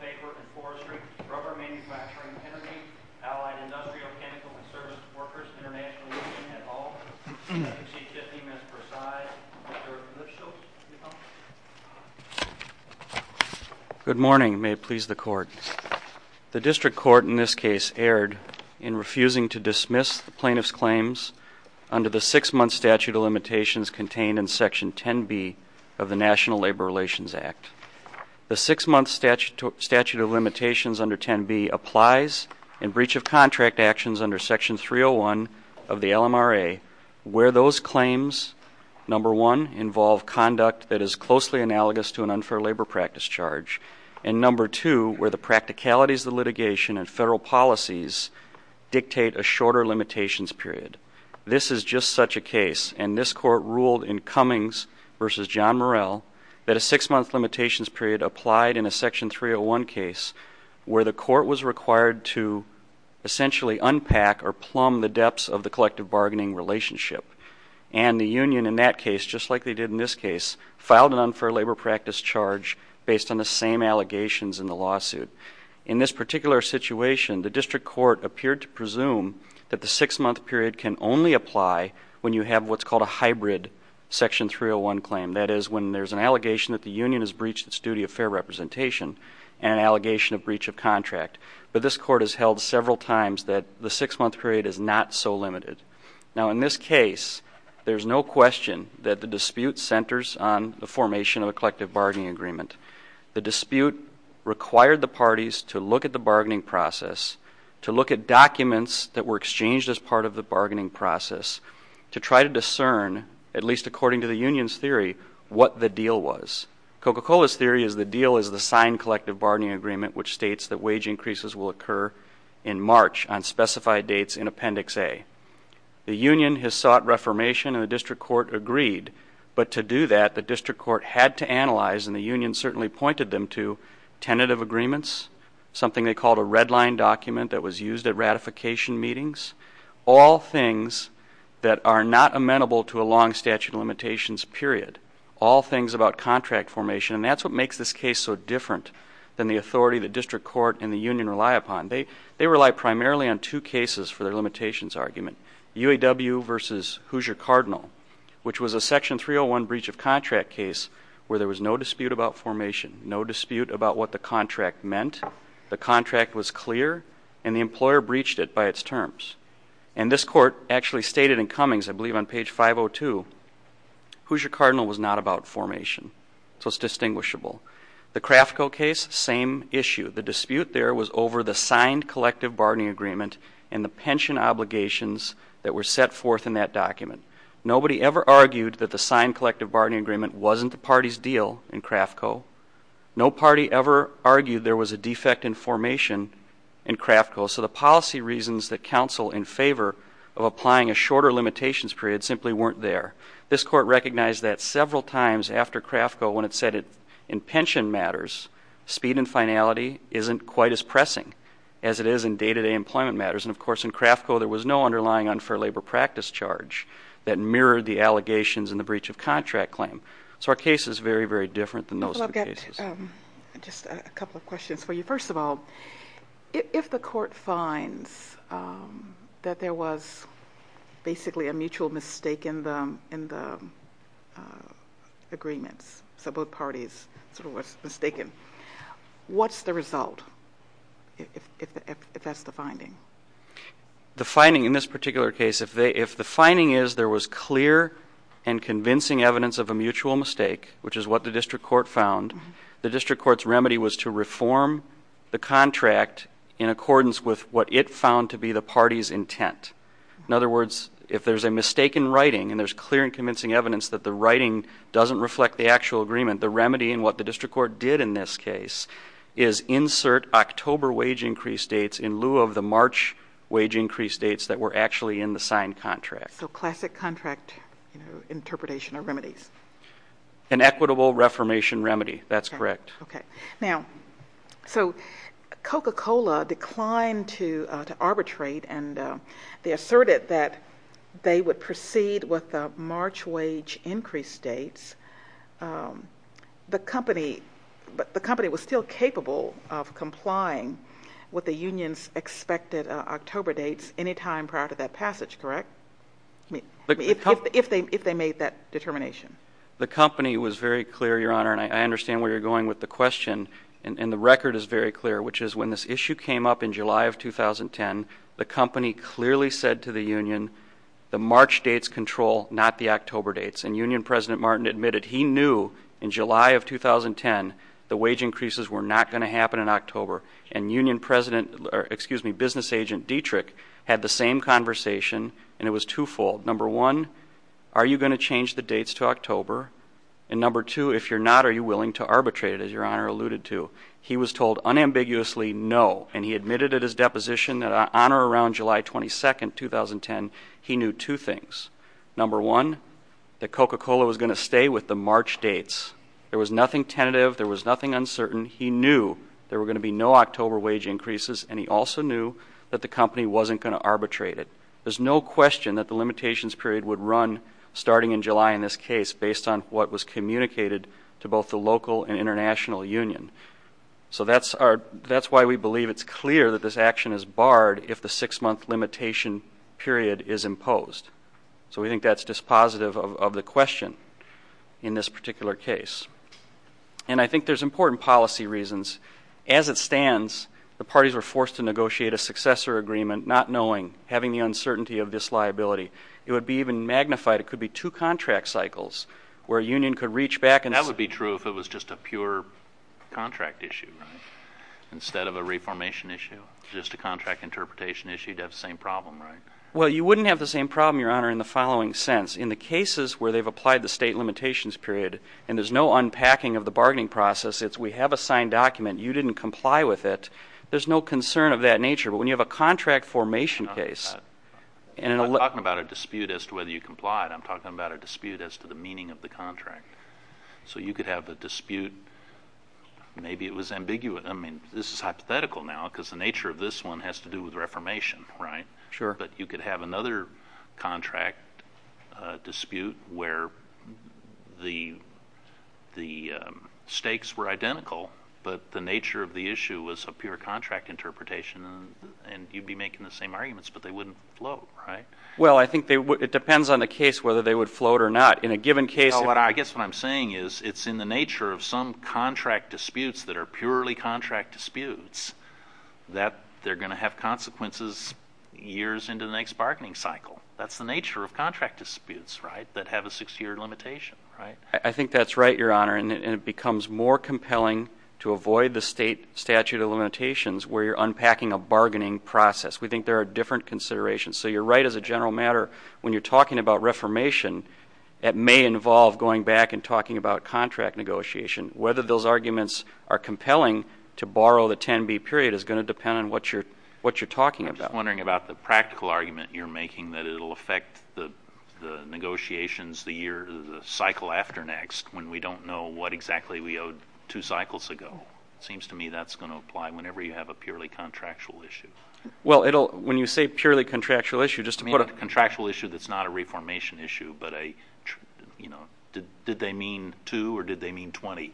Paper and Forestry, Rubber Manufacturing, Energy, Allied Industrial, Chemical and Service Workers International Union, et al, exceed 50 minutes per side, Mr. Lipschultz, will you come up? Good morning. May it please the court. The district court in this case erred in refusing to dismiss the plaintiff's claims under the six-month statute of limitations contained in Section 10B of the National Labor Relations Act. The six-month statute of limitations under 10B applies in breach of contract actions under Section 301 of the LMRA where those claims, number one, involve conduct that is closely analogous to an unfair labor practice charge, and number two, where the practicalities of litigation and federal policies dictate a shorter limitations period. This is just such a case, and this court ruled in Cummings v. John Murrell that a six-month limitations period applied in a Section 301 case where the court was required to essentially unpack or plumb the depths of the collective bargaining relationship. And the union in that case, just like they did in this case, filed an unfair labor practice charge based on the same allegations in the lawsuit. In this particular situation, the district court appeared to presume that the six-month period can only apply when you have what's called a hybrid Section 301 claim. That is, when there's an allegation that the union has breached its duty of fair representation and an allegation of breach of contract. But this court has held several times that the six-month period is not so limited. Now, in this case, there's no question that the dispute centers on the formation of a collective bargaining agreement. The dispute required the parties to look at the bargaining process, to look at documents that were exchanged as part of the bargaining process, to try to discern, at least according to the union's theory, what the deal was. Coca-Cola's theory is the deal is the signed collective bargaining agreement, which states that wage increases will occur in March on specified dates in Appendix A. The union has sought reformation, and the district court agreed. But to do that, the district court had to analyze, and the union certainly pointed them to, tentative agreements, something they called a red-line document that was used at ratification meetings, all things that are not amenable to a long statute of limitations period, all things about contract formation. And that's what makes this case so different than the authority the district court and the union rely upon. They rely primarily on two cases for their limitations argument, UAW versus Hoosier-Cardinal, which was a Section 301 breach of contract case where there was no dispute about formation, no dispute about what the contract meant, the contract was clear, and the employer breached it by its terms. And this court actually stated in Cummings, I believe on page 502, Hoosier-Cardinal was not about formation, so it's distinguishable. The Craftco case, same issue. The dispute there was over the signed collective bargaining agreement and the pension obligations that were set forth in that document. Nobody ever argued that the signed collective bargaining agreement wasn't the party's deal in Craftco. No party ever argued there was a defect in formation in Craftco, so the policy reasons that counsel in favor of applying a shorter limitations period simply weren't there. This court recognized that several times after Craftco when it said in pension matters, speed and finality isn't quite as pressing as it is in day-to-day employment matters. And, of course, in Craftco there was no underlying unfair labor practice charge that mirrored the allegations in the breach of contract claim. So our case is very, very different than most of the cases. I've got just a couple of questions for you. First of all, if the court finds that there was basically a mutual mistake in the agreements, so both parties sort of was mistaken, what's the result if that's the finding? The finding in this particular case, if the finding is there was clear and convincing evidence of a mutual mistake, which is what the district court found, the district court's remedy was to reform the contract in accordance with what it found to be the party's intent. In other words, if there's a mistake in writing and there's clear and convincing evidence that the writing doesn't reflect the actual agreement, the remedy in what the district court did in this case is insert October wage increase dates in lieu of the March wage increase dates that were actually in the signed contract. So classic contract interpretation or remedies? An equitable reformation remedy. That's correct. Okay. Now, so Coca-Cola declined to arbitrate, and they asserted that they would proceed with the March wage increase dates. The company was still capable of complying with the union's expected October dates any time prior to that passage. Correct? If they made that determination. The company was very clear, Your Honor, and I understand where you're going with the question, and the record is very clear, which is when this issue came up in July of 2010, the company clearly said to the union the March dates control, not the October dates, and union President Martin admitted he knew in July of 2010 the wage increases were not going to happen in October, and business agent Dietrich had the same conversation, and it was twofold. Number one, are you going to change the dates to October? And number two, if you're not, are you willing to arbitrate, as Your Honor alluded to? He was told unambiguously no, and he admitted at his deposition that on or around July 22, 2010, he knew two things. Number one, that Coca-Cola was going to stay with the March dates. There was nothing tentative. There was nothing uncertain. He knew there were going to be no October wage increases, and he also knew that the company wasn't going to arbitrate it. There's no question that the limitations period would run starting in July in this case, based on what was communicated to both the local and international union. So that's why we believe it's clear that this action is barred if the six-month limitation period is imposed. So we think that's dispositive of the question in this particular case. And I think there's important policy reasons. As it stands, the parties were forced to negotiate a successor agreement not knowing, having the uncertainty of this liability. It would be even magnified. It could be two contract cycles where a union could reach back and say. That would be true if it was just a pure contract issue instead of a reformation issue, just a contract interpretation issue. You'd have the same problem, right? Well, you wouldn't have the same problem, Your Honor, in the following sense. In the cases where they've applied the state limitations period and there's no unpacking of the bargaining process, it's we have a signed document. You didn't comply with it. There's no concern of that nature. But when you have a contract formation case. I'm not talking about a dispute as to whether you complied. I'm talking about a dispute as to the meaning of the contract. So you could have a dispute. Maybe it was ambiguous. I mean, this is hypothetical now because the nature of this one has to do with reformation, right? Sure. But you could have another contract dispute where the stakes were identical but the nature of the issue was a pure contract interpretation and you'd be making the same arguments, but they wouldn't float, right? Well, I think it depends on the case whether they would float or not. In a given case. I guess what I'm saying is it's in the nature of some contract disputes that are purely contract disputes that they're going to have consequences years into the next bargaining cycle. That's the nature of contract disputes, right, that have a six-year limitation, right? I think that's right, Your Honor, and it becomes more compelling to avoid the state statute of limitations where you're unpacking a bargaining process. We think there are different considerations. So you're right as a general matter when you're talking about reformation, it may involve going back and talking about contract negotiation, whether those arguments are compelling to borrow the 10B period is going to depend on what you're talking about. I'm just wondering about the practical argument you're making, that it will affect the negotiations the cycle after next when we don't know what exactly we owed two cycles ago. It seems to me that's going to apply whenever you have a purely contractual issue. Well, when you say purely contractual issue, just to put a – I mean a contractual issue that's not a reformation issue, but a, you know, did they mean two or did they mean 20?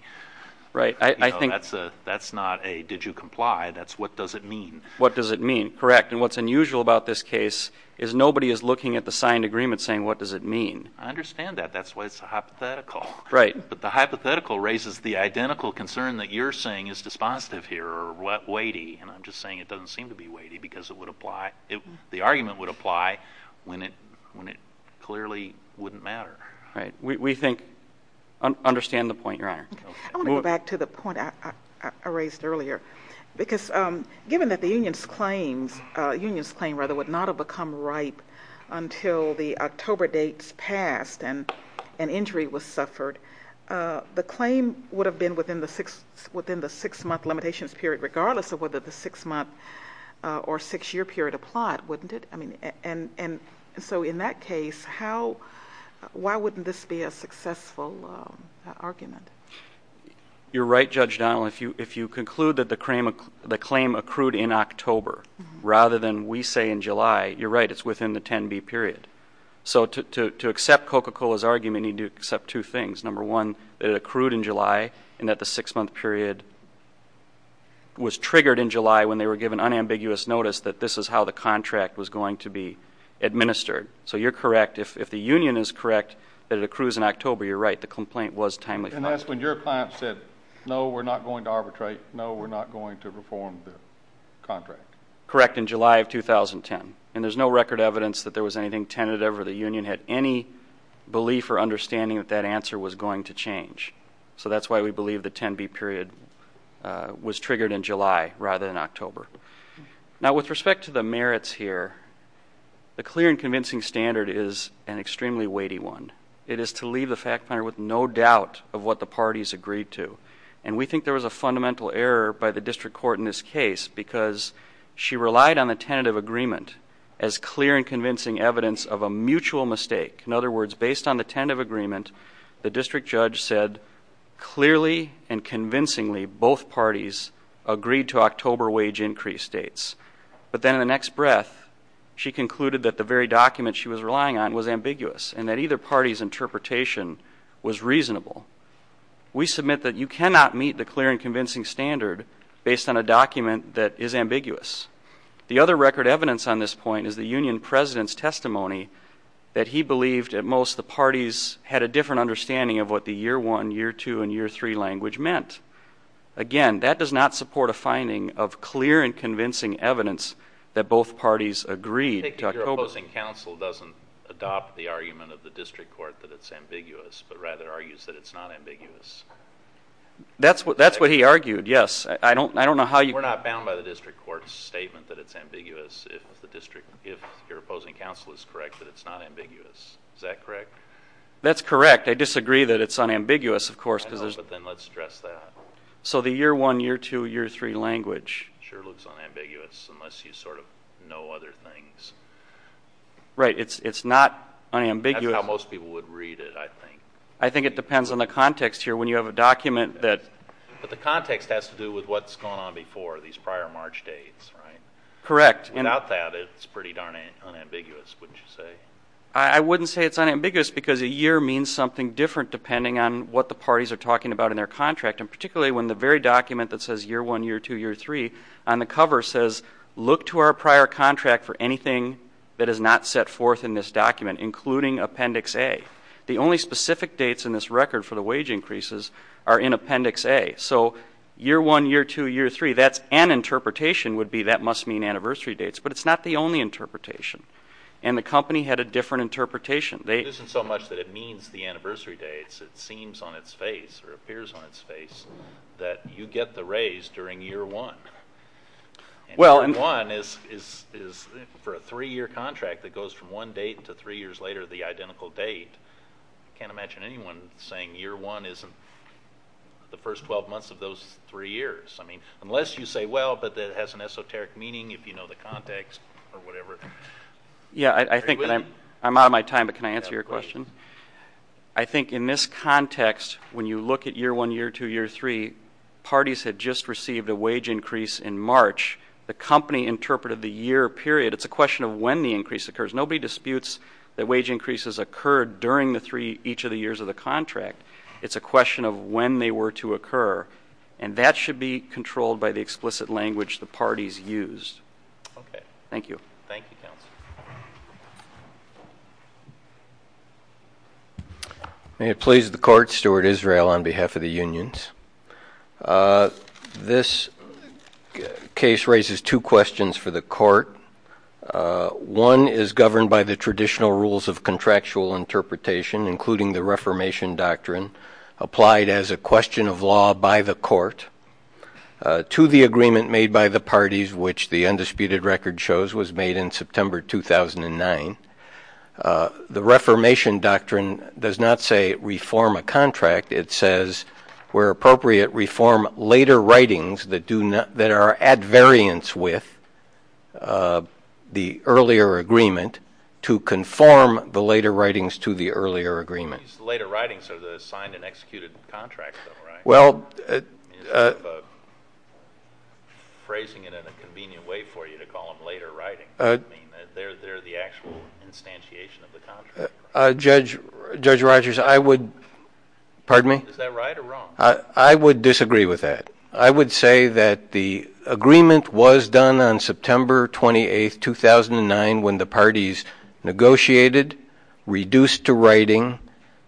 Right. That's not a did you comply, that's what does it mean. What does it mean, correct. And what's unusual about this case is nobody is looking at the signed agreement saying what does it mean. I understand that. That's why it's a hypothetical. Right. But the hypothetical raises the identical concern that you're saying is dispositive here or weighty, and I'm just saying it doesn't seem to be weighty because it would apply – the argument would apply when it clearly wouldn't matter. Right. We think – understand the point, Your Honor. I want to go back to the point I raised earlier, because given that the union's claim would not have become ripe until the October dates passed and an injury was suffered, the claim would have been within the six-month limitations period, regardless of whether the six-month or six-year period applied, wouldn't it? And so in that case, how – why wouldn't this be a successful argument? You're right, Judge Donnell. If you conclude that the claim accrued in October rather than, we say, in July, you're right. It's within the 10B period. So to accept Coca-Cola's argument, you need to accept two things. Number one, that it accrued in July and that the six-month period was triggered in July when they were given unambiguous notice that this is how the contract was going to be administered. So you're correct. If the union is correct that it accrues in October, you're right. The complaint was timely. And that's when your client said, no, we're not going to arbitrate. No, we're not going to reform the contract. Correct, in July of 2010. And there's no record evidence that there was anything tentative or the union had any belief or understanding that that answer was going to change. So that's why we believe the 10B period was triggered in July rather than October. Now, with respect to the merits here, the clear and convincing standard is an extremely weighty one. It is to leave the fact finder with no doubt of what the parties agreed to. And we think there was a fundamental error by the district court in this case because she relied on the tentative agreement as clear and convincing evidence of a mutual mistake. In other words, based on the tentative agreement, the district judge said clearly and convincingly both parties agreed to October wage increase dates. But then in the next breath, she concluded that the very document she was relying on was ambiguous and that either party's interpretation was reasonable. We submit that you cannot meet the clear and convincing standard based on a document that is ambiguous. The other record evidence on this point is the union president's testimony that he believed at most the parties had a different understanding of what the year one, year two, and year three language meant. Again, that does not support a finding of clear and convincing evidence that both parties agreed to October. I think that your opposing counsel doesn't adopt the argument of the district court that it's ambiguous, but rather argues that it's not ambiguous. That's what he argued, yes. We're not bound by the district court's statement that it's ambiguous if your opposing counsel is correct that it's not ambiguous. Is that correct? That's correct. I disagree that it's unambiguous, of course. I know, but then let's address that. So the year one, year two, year three language. Sure looks unambiguous unless you sort of know other things. Right, it's not unambiguous. That's how most people would read it, I think. I think it depends on the context here. But the context has to do with what's gone on before, these prior March dates, right? Correct. Without that, it's pretty darn unambiguous, wouldn't you say? I wouldn't say it's unambiguous because a year means something different depending on what the parties are talking about in their contract, and particularly when the very document that says year one, year two, year three on the cover says, look to our prior contract for anything that is not set forth in this document, including Appendix A. The only specific dates in this record for the wage increases are in Appendix A. So year one, year two, year three, that's an interpretation would be that must mean anniversary dates. But it's not the only interpretation. And the company had a different interpretation. It isn't so much that it means the anniversary dates. It seems on its face or appears on its face that you get the raise during year one. And year one is for a three-year contract that goes from one date to three years later the identical date. I can't imagine anyone saying year one isn't the first 12 months of those three years. I mean, unless you say, well, but it has an esoteric meaning if you know the context or whatever. Yeah, I think that I'm out of my time, but can I answer your question? I think in this context, when you look at year one, year two, year three, the parties had just received a wage increase in March. The company interpreted the year period. It's a question of when the increase occurs. Nobody disputes that wage increases occurred during each of the years of the contract. It's a question of when they were to occur. And that should be controlled by the explicit language the parties used. Okay. Thank you. Thank you, counsel. May it please the court. Stuart Israel on behalf of the unions. This case raises two questions for the court. One is governed by the traditional rules of contractual interpretation, including the reformation doctrine applied as a question of law by the court to the agreement made by the parties, which the undisputed record shows was made in September 2009. The reformation doctrine does not say reform a contract. It says, where appropriate, reform later writings that are at variance with the earlier agreement to conform the later writings to the earlier agreement. These later writings are the signed and executed contracts, though, right? Well. Phrasing it in a convenient way for you to call them later writings. I mean, they're the actual instantiation of the contract. Judge Rogers, I would — pardon me? Is that right or wrong? I would disagree with that. I would say that the agreement was done on September 28, 2009, when the parties negotiated, reduced to writing,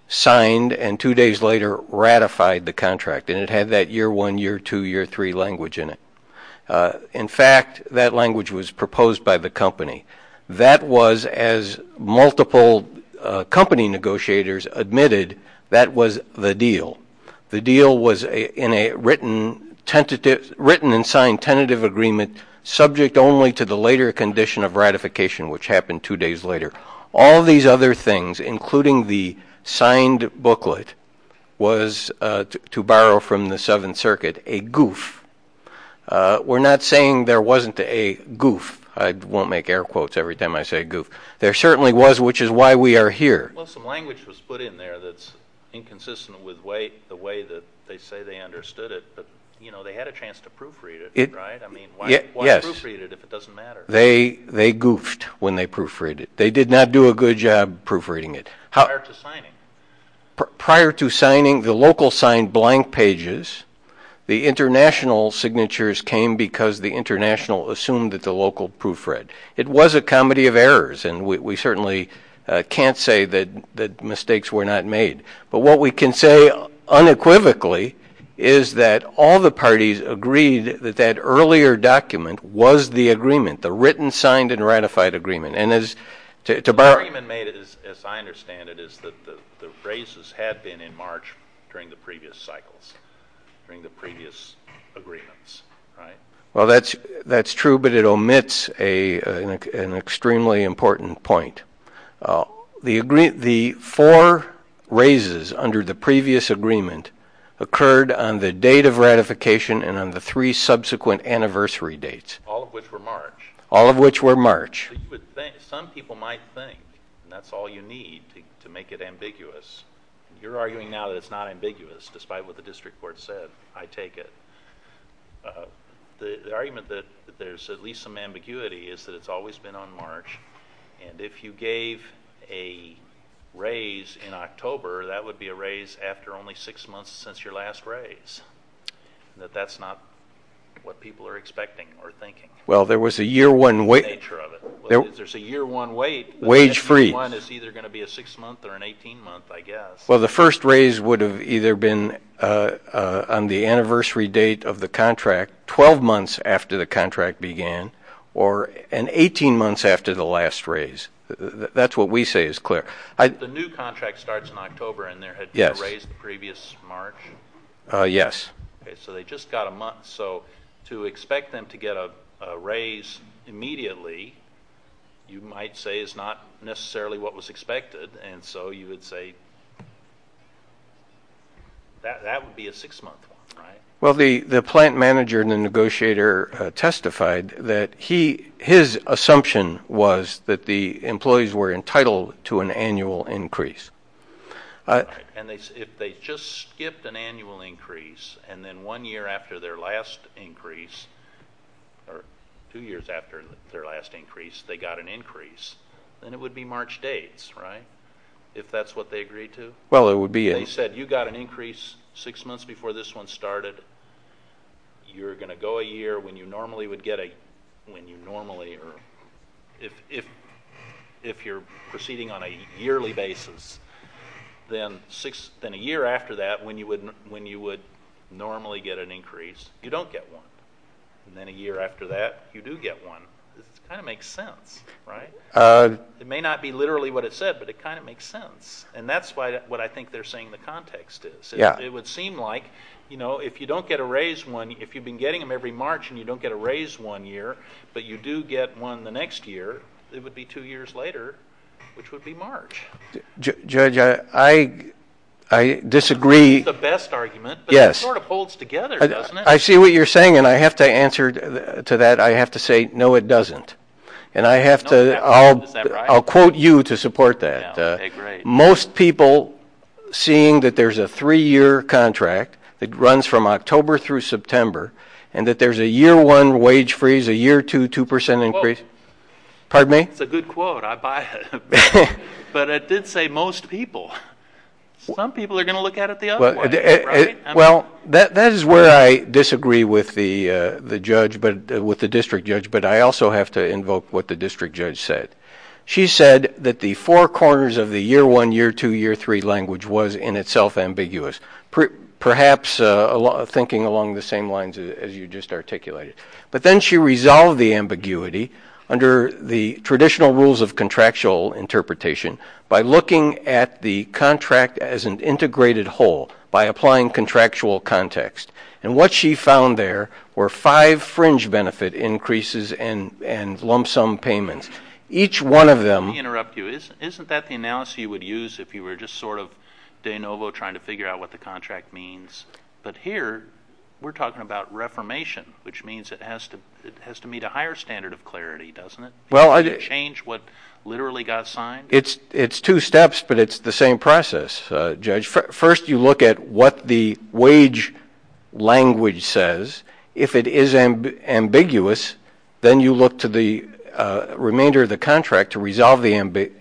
signed, and two days later ratified the contract. And it had that year one, year two, year three language in it. In fact, that language was proposed by the company. That was, as multiple company negotiators admitted, that was the deal. The deal was in a written and signed tentative agreement subject only to the later condition of ratification, which happened two days later. All these other things, including the signed booklet, was, to borrow from the Seventh Circuit, a goof. We're not saying there wasn't a goof. I won't make air quotes every time I say goof. There certainly was, which is why we are here. Well, some language was put in there that's inconsistent with the way that they say they understood it. But, you know, they had a chance to proofread it, right? I mean, why proofread it if it doesn't matter? They goofed when they proofread it. They did not do a good job proofreading it. Prior to signing? Prior to signing, the local signed blank pages. The international signatures came because the international assumed that the local proofread. It was a comedy of errors, and we certainly can't say that mistakes were not made. But what we can say unequivocally is that all the parties agreed that that earlier document was the agreement, the written signed and ratified agreement. The argument made, as I understand it, is that the raises had been in March during the previous cycles, during the previous agreements, right? Well, that's true, but it omits an extremely important point. The four raises under the previous agreement occurred on the date of ratification and on the three subsequent anniversary dates. All of which were March. All of which were March. Some people might think that's all you need to make it ambiguous. You're arguing now that it's not ambiguous, despite what the district court said. I take it. The argument that there's at least some ambiguity is that it's always been on March, and if you gave a raise in October, that would be a raise after only six months since your last raise, that that's not what people are expecting or thinking. Well, there was a year one wait. There's a year one wait. Wage freeze. It's either going to be a six month or an 18 month, I guess. Well, the first raise would have either been on the anniversary date of the contract, 12 months after the contract began, or an 18 months after the last raise. That's what we say is clear. The new contract starts in October, and there had been a raise in previous March. Yes. So they just got a month. So to expect them to get a raise immediately you might say is not necessarily what was expected, and so you would say that would be a six month one, right? Well, the plant manager and the negotiator testified that his assumption was that the employees were entitled to an annual increase. And if they just skipped an annual increase and then one year after their last increase, or two years after their last increase, they got an increase, then it would be March dates, right? If that's what they agreed to? Well, it would be. They said you got an increase six months before this one started. You're going to go a year when you normally would get a – if you're proceeding on a yearly basis, then a year after that when you would normally get an increase, you don't get one. And then a year after that, you do get one. It kind of makes sense, right? It may not be literally what it said, but it kind of makes sense. And that's what I think they're saying the context is. It would seem like if you don't get a raise one – if you've been getting them every March and you don't get a raise one year, but you do get one the next year, it would be two years later, which would be March. Judge, I disagree. That's the best argument, but it sort of holds together, doesn't it? I see what you're saying, and I have to answer to that. I have to say, no, it doesn't. And I have to – I'll quote you to support that. Most people seeing that there's a three-year contract that runs from October through September and that there's a year one wage freeze, a year two 2% increase – That's a good quote. I buy it. But it did say most people. Some people are going to look at it the other way, right? Well, that is where I disagree with the judge, with the district judge, but I also have to invoke what the district judge said. She said that the four corners of the year one, year two, year three language was in itself ambiguous, perhaps thinking along the same lines as you just articulated. But then she resolved the ambiguity under the traditional rules of contractual interpretation by looking at the contract as an integrated whole by applying contractual context. And what she found there were five fringe benefit increases and lump sum payments. Each one of them – Let me interrupt you. Isn't that the analysis you would use if you were just sort of de novo trying to figure out what the contract means? But here we're talking about reformation, which means it has to meet a higher standard of clarity, doesn't it? Well, I – To change what literally got signed? It's two steps, but it's the same process, Judge. First, you look at what the wage language says. If it is ambiguous, then you look to the remainder of the contract to resolve the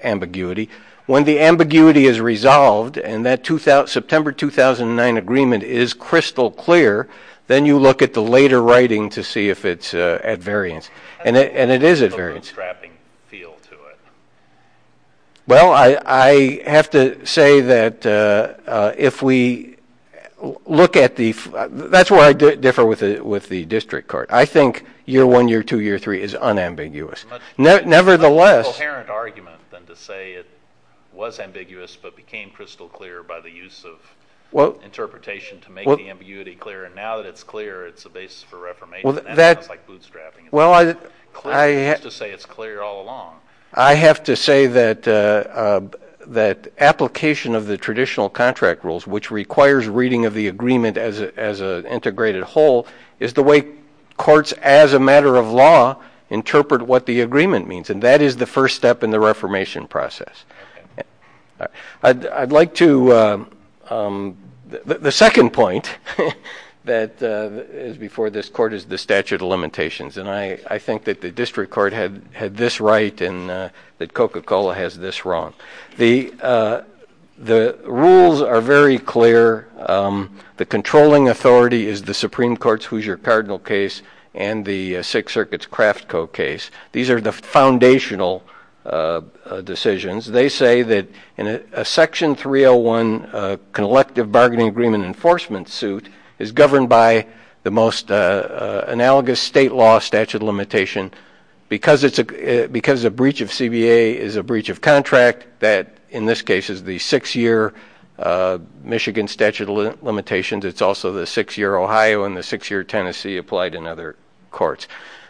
ambiguity. When the ambiguity is resolved and that September 2009 agreement is crystal clear, then you look at the later writing to see if it's at variance. And it is at variance. It has a little bit of a strapping feel to it. Well, I have to say that if we look at the – that's where I differ with the district court. I think year one, year two, year three is unambiguous. Nevertheless – It's a much more coherent argument than to say it was ambiguous but became crystal clear by the use of interpretation to make the ambiguity clear. And now that it's clear, it's a basis for reformation. That sounds like bootstrapping. Well, I – It's not clear. You used to say it's clear all along. I have to say that application of the traditional contract rules, which requires reading of the agreement as an integrated whole, is the way courts, as a matter of law, interpret what the agreement means. And that is the first step in the reformation process. I'd like to – the second point that is before this court is the statute of limitations. And I think that the district court had this right and that Coca-Cola has this wrong. The rules are very clear. The controlling authority is the Supreme Court's Hoosier Cardinal case and the Sixth Circuit's Craft Co. case. These are the foundational decisions. They say that in a Section 301 collective bargaining agreement enforcement suit is governed by the most analogous state law statute of limitation because a breach of CBA is a breach of contract that, in this case, is the six-year Michigan statute of limitations. It's also the six-year Ohio and the six-year Tennessee applied in other courts.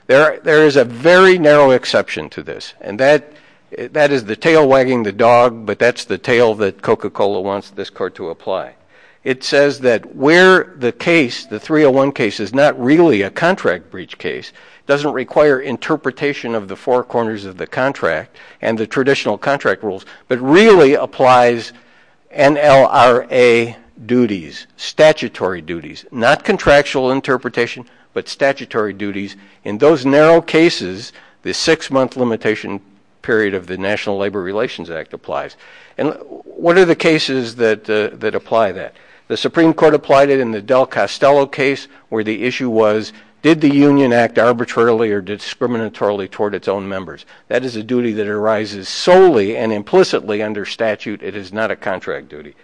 There is a very narrow exception to this. And that is the tail wagging the dog, but that's the tail that Coca-Cola wants this court to apply. It says that where the case, the 301 case, is not really a contract breach case, doesn't require interpretation of the four corners of the contract and the traditional contract rules, but really applies NLRA duties, statutory duties, not contractual interpretation, but statutory duties. In those narrow cases, the six-month limitation period of the National Labor Relations Act applies. And what are the cases that apply that? The Supreme Court applied it in the Del Costello case where the issue was, did the union act arbitrarily or discriminatorily toward its own members? That is a duty that arises solely and implicitly under statute. It is not a contract duty.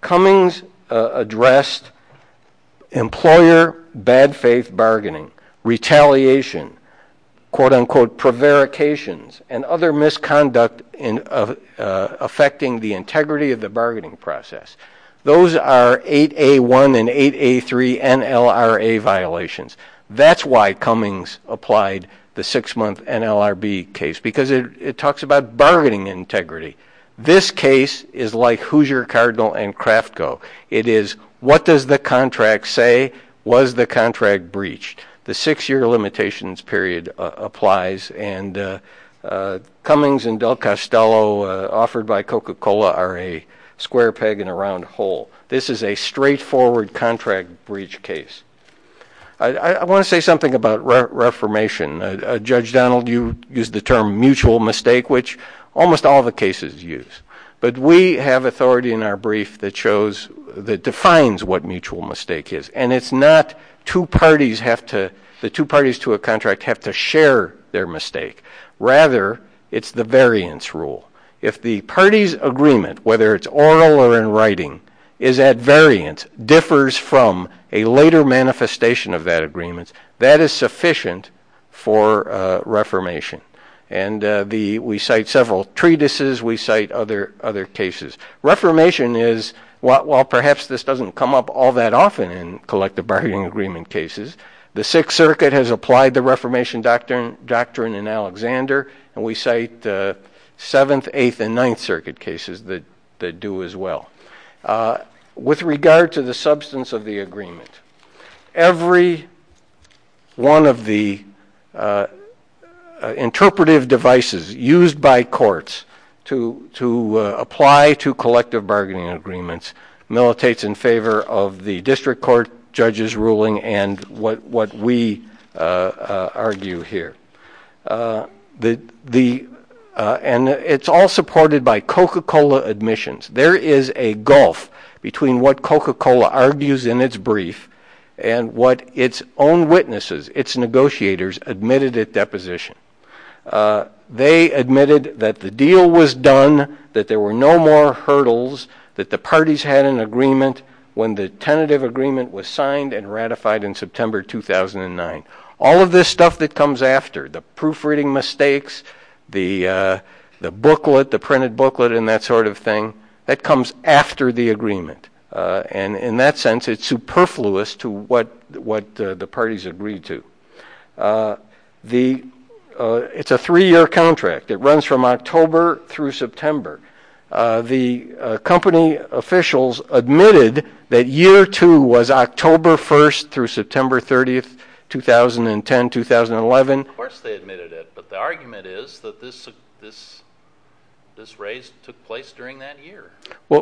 Cummings addressed employer bad faith bargaining, retaliation, quote, unquote, prevarications, and other misconduct affecting the integrity of the bargaining process. Those are 8A1 and 8A3 NLRA violations. That's why Cummings applied the six-month NLRB case because it talks about bargaining integrity. This case is like Hoosier, Cardinal, and Kraftko. It is, what does the contract say? Was the contract breached? The six-year limitations period applies, and Cummings and Del Costello offered by Coca-Cola are a square peg in a round hole. This is a straightforward contract breach case. I want to say something about reformation. Judge Donald, you used the term mutual mistake, which almost all the cases use. But we have authority in our brief that shows, that defines what mutual mistake is, and it's not two parties have to, the two parties to a contract have to share their mistake. Rather, it's the variance rule. If the party's agreement, whether it's oral or in writing, is at variance, differs from a later manifestation of that agreement, that is sufficient for reformation. And we cite several treatises. We cite other cases. Reformation is, while perhaps this doesn't come up all that often in collective bargaining agreement cases, the Sixth Circuit has applied the reformation doctrine in Alexander, and we cite Seventh, Eighth, and Ninth Circuit cases that do as well. With regard to the substance of the agreement, every one of the interpretive devices used by courts to apply to collective bargaining agreements militates in favor of the district court judge's ruling and what we argue here. And it's all supported by Coca-Cola admissions. There is a gulf between what Coca-Cola argues in its brief and what its own witnesses, its negotiators admitted at deposition. They admitted that the deal was done, that there were no more hurdles, that the parties had an agreement when the tentative agreement was signed and ratified in September 2009. All of this stuff that comes after, the proofreading mistakes, the booklet, the printed booklet and that sort of thing, that comes after the agreement. And in that sense, it's superfluous to what the parties agreed to. It's a three-year contract. It runs from October through September. The company officials admitted that year two was October 1st through September 30th, 2010, 2011. Of course they admitted it, but the argument is that this raise took place during that year. I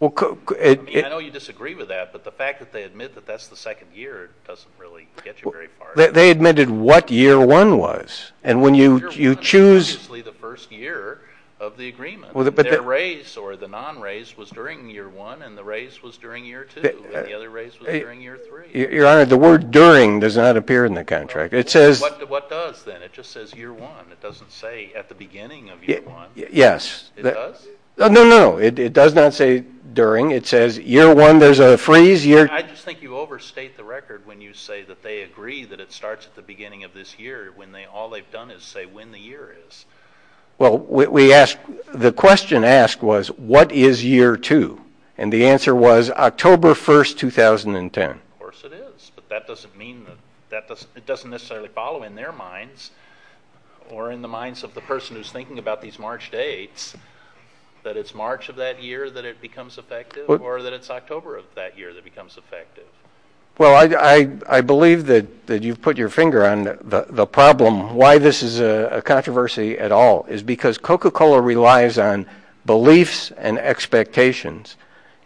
know you disagree with that, but the fact that they admit that that's the second year doesn't really get you very far. They admitted what year one was. And when you choose – Year one was obviously the first year of the agreement. Their raise or the non-raise was during year one and the raise was during year two and the other raise was during year three. Your Honor, the word during does not appear in the contract. It says – What does then? It just says year one. It doesn't say at the beginning of year one. Yes. It does? No, no, no. It does not say during. It says year one, there's a freeze. I just think you overstate the record when you say that they agree that it starts at the beginning of this year when all they've done is say when the year is. Well, the question asked was what is year two? And the answer was October 1st, 2010. Of course it is. But that doesn't mean that it doesn't necessarily follow in their minds or in the minds of the person who's thinking about these March dates that it's March of that year that it becomes effective or that it's October of that year that it becomes effective. Well, I believe that you've put your finger on the problem. Why this is a controversy at all is because Coca-Cola relies on beliefs and expectations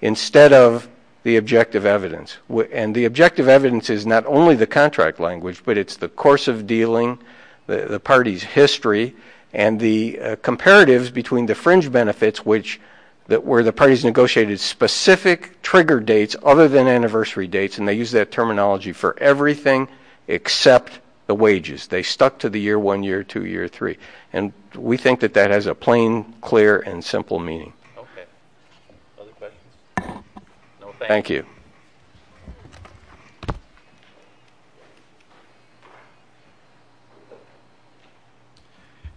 instead of the objective evidence. And the objective evidence is not only the contract language, but it's the course of dealing, the party's history, and the comparatives between the fringe benefits where the parties negotiated specific trigger dates other than anniversary dates, and they used that terminology for everything except the wages. They stuck to the year one, year two, year three. And we think that that has a plain, clear, and simple meaning. Okay. Other questions? No, thank you. Thank you.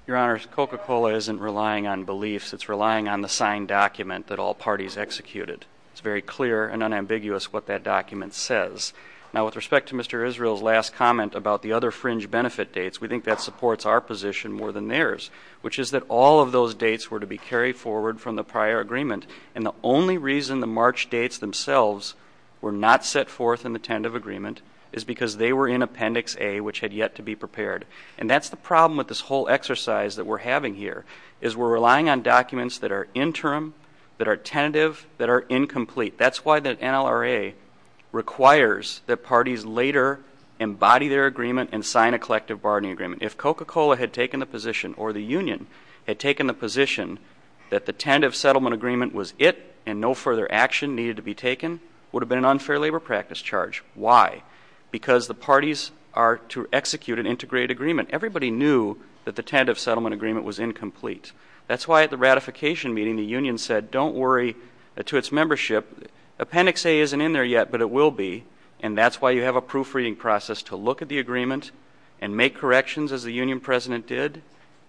Your Honors, Coca-Cola isn't relying on beliefs. It's relying on the signed document that all parties executed. It's very clear and unambiguous what that document says. Now, with respect to Mr. Israel's last comment about the other fringe benefit dates, we think that supports our position more than theirs, which is that all of those dates were to be carried forward from the prior agreement, and the only reason the March dates themselves were not set forth in the tentative agreement is because they were in Appendix A, which had yet to be prepared. And that's the problem with this whole exercise that we're having here, is we're relying on documents that are interim, that are tentative, that are incomplete. That's why the NLRA requires that parties later embody their agreement and sign a collective bargaining agreement. If Coca-Cola had taken the position, or the union had taken the position, that the tentative settlement agreement was it and no further action needed to be taken, it would have been an unfair labor practice charge. Why? Because the parties are to execute an integrated agreement. Everybody knew that the tentative settlement agreement was incomplete. That's why at the ratification meeting the union said, don't worry, to its membership, Appendix A isn't in there yet, but it will be, and that's why you have a proofreading process to look at the agreement and make corrections as the union president did,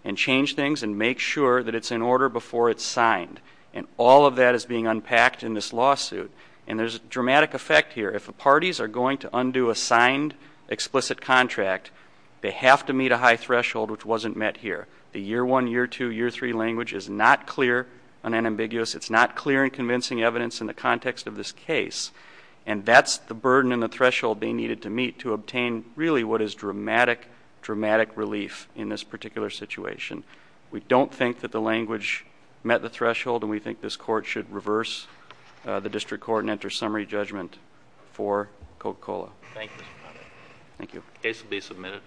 and change things and make sure that it's in order before it's signed. And all of that is being unpacked in this lawsuit. And there's a dramatic effect here. If the parties are going to undo a signed explicit contract, they have to meet a high threshold, which wasn't met here. The year one, year two, year three language is not clear and unambiguous. It's not clear and convincing evidence in the context of this case. And that's the burden and the threshold they needed to meet to obtain really what is dramatic, dramatic relief in this particular situation. We don't think that the language met the threshold, and we think this court should reverse the district court and enter summary judgment for Coca-Cola. Thank you. The case will be submitted.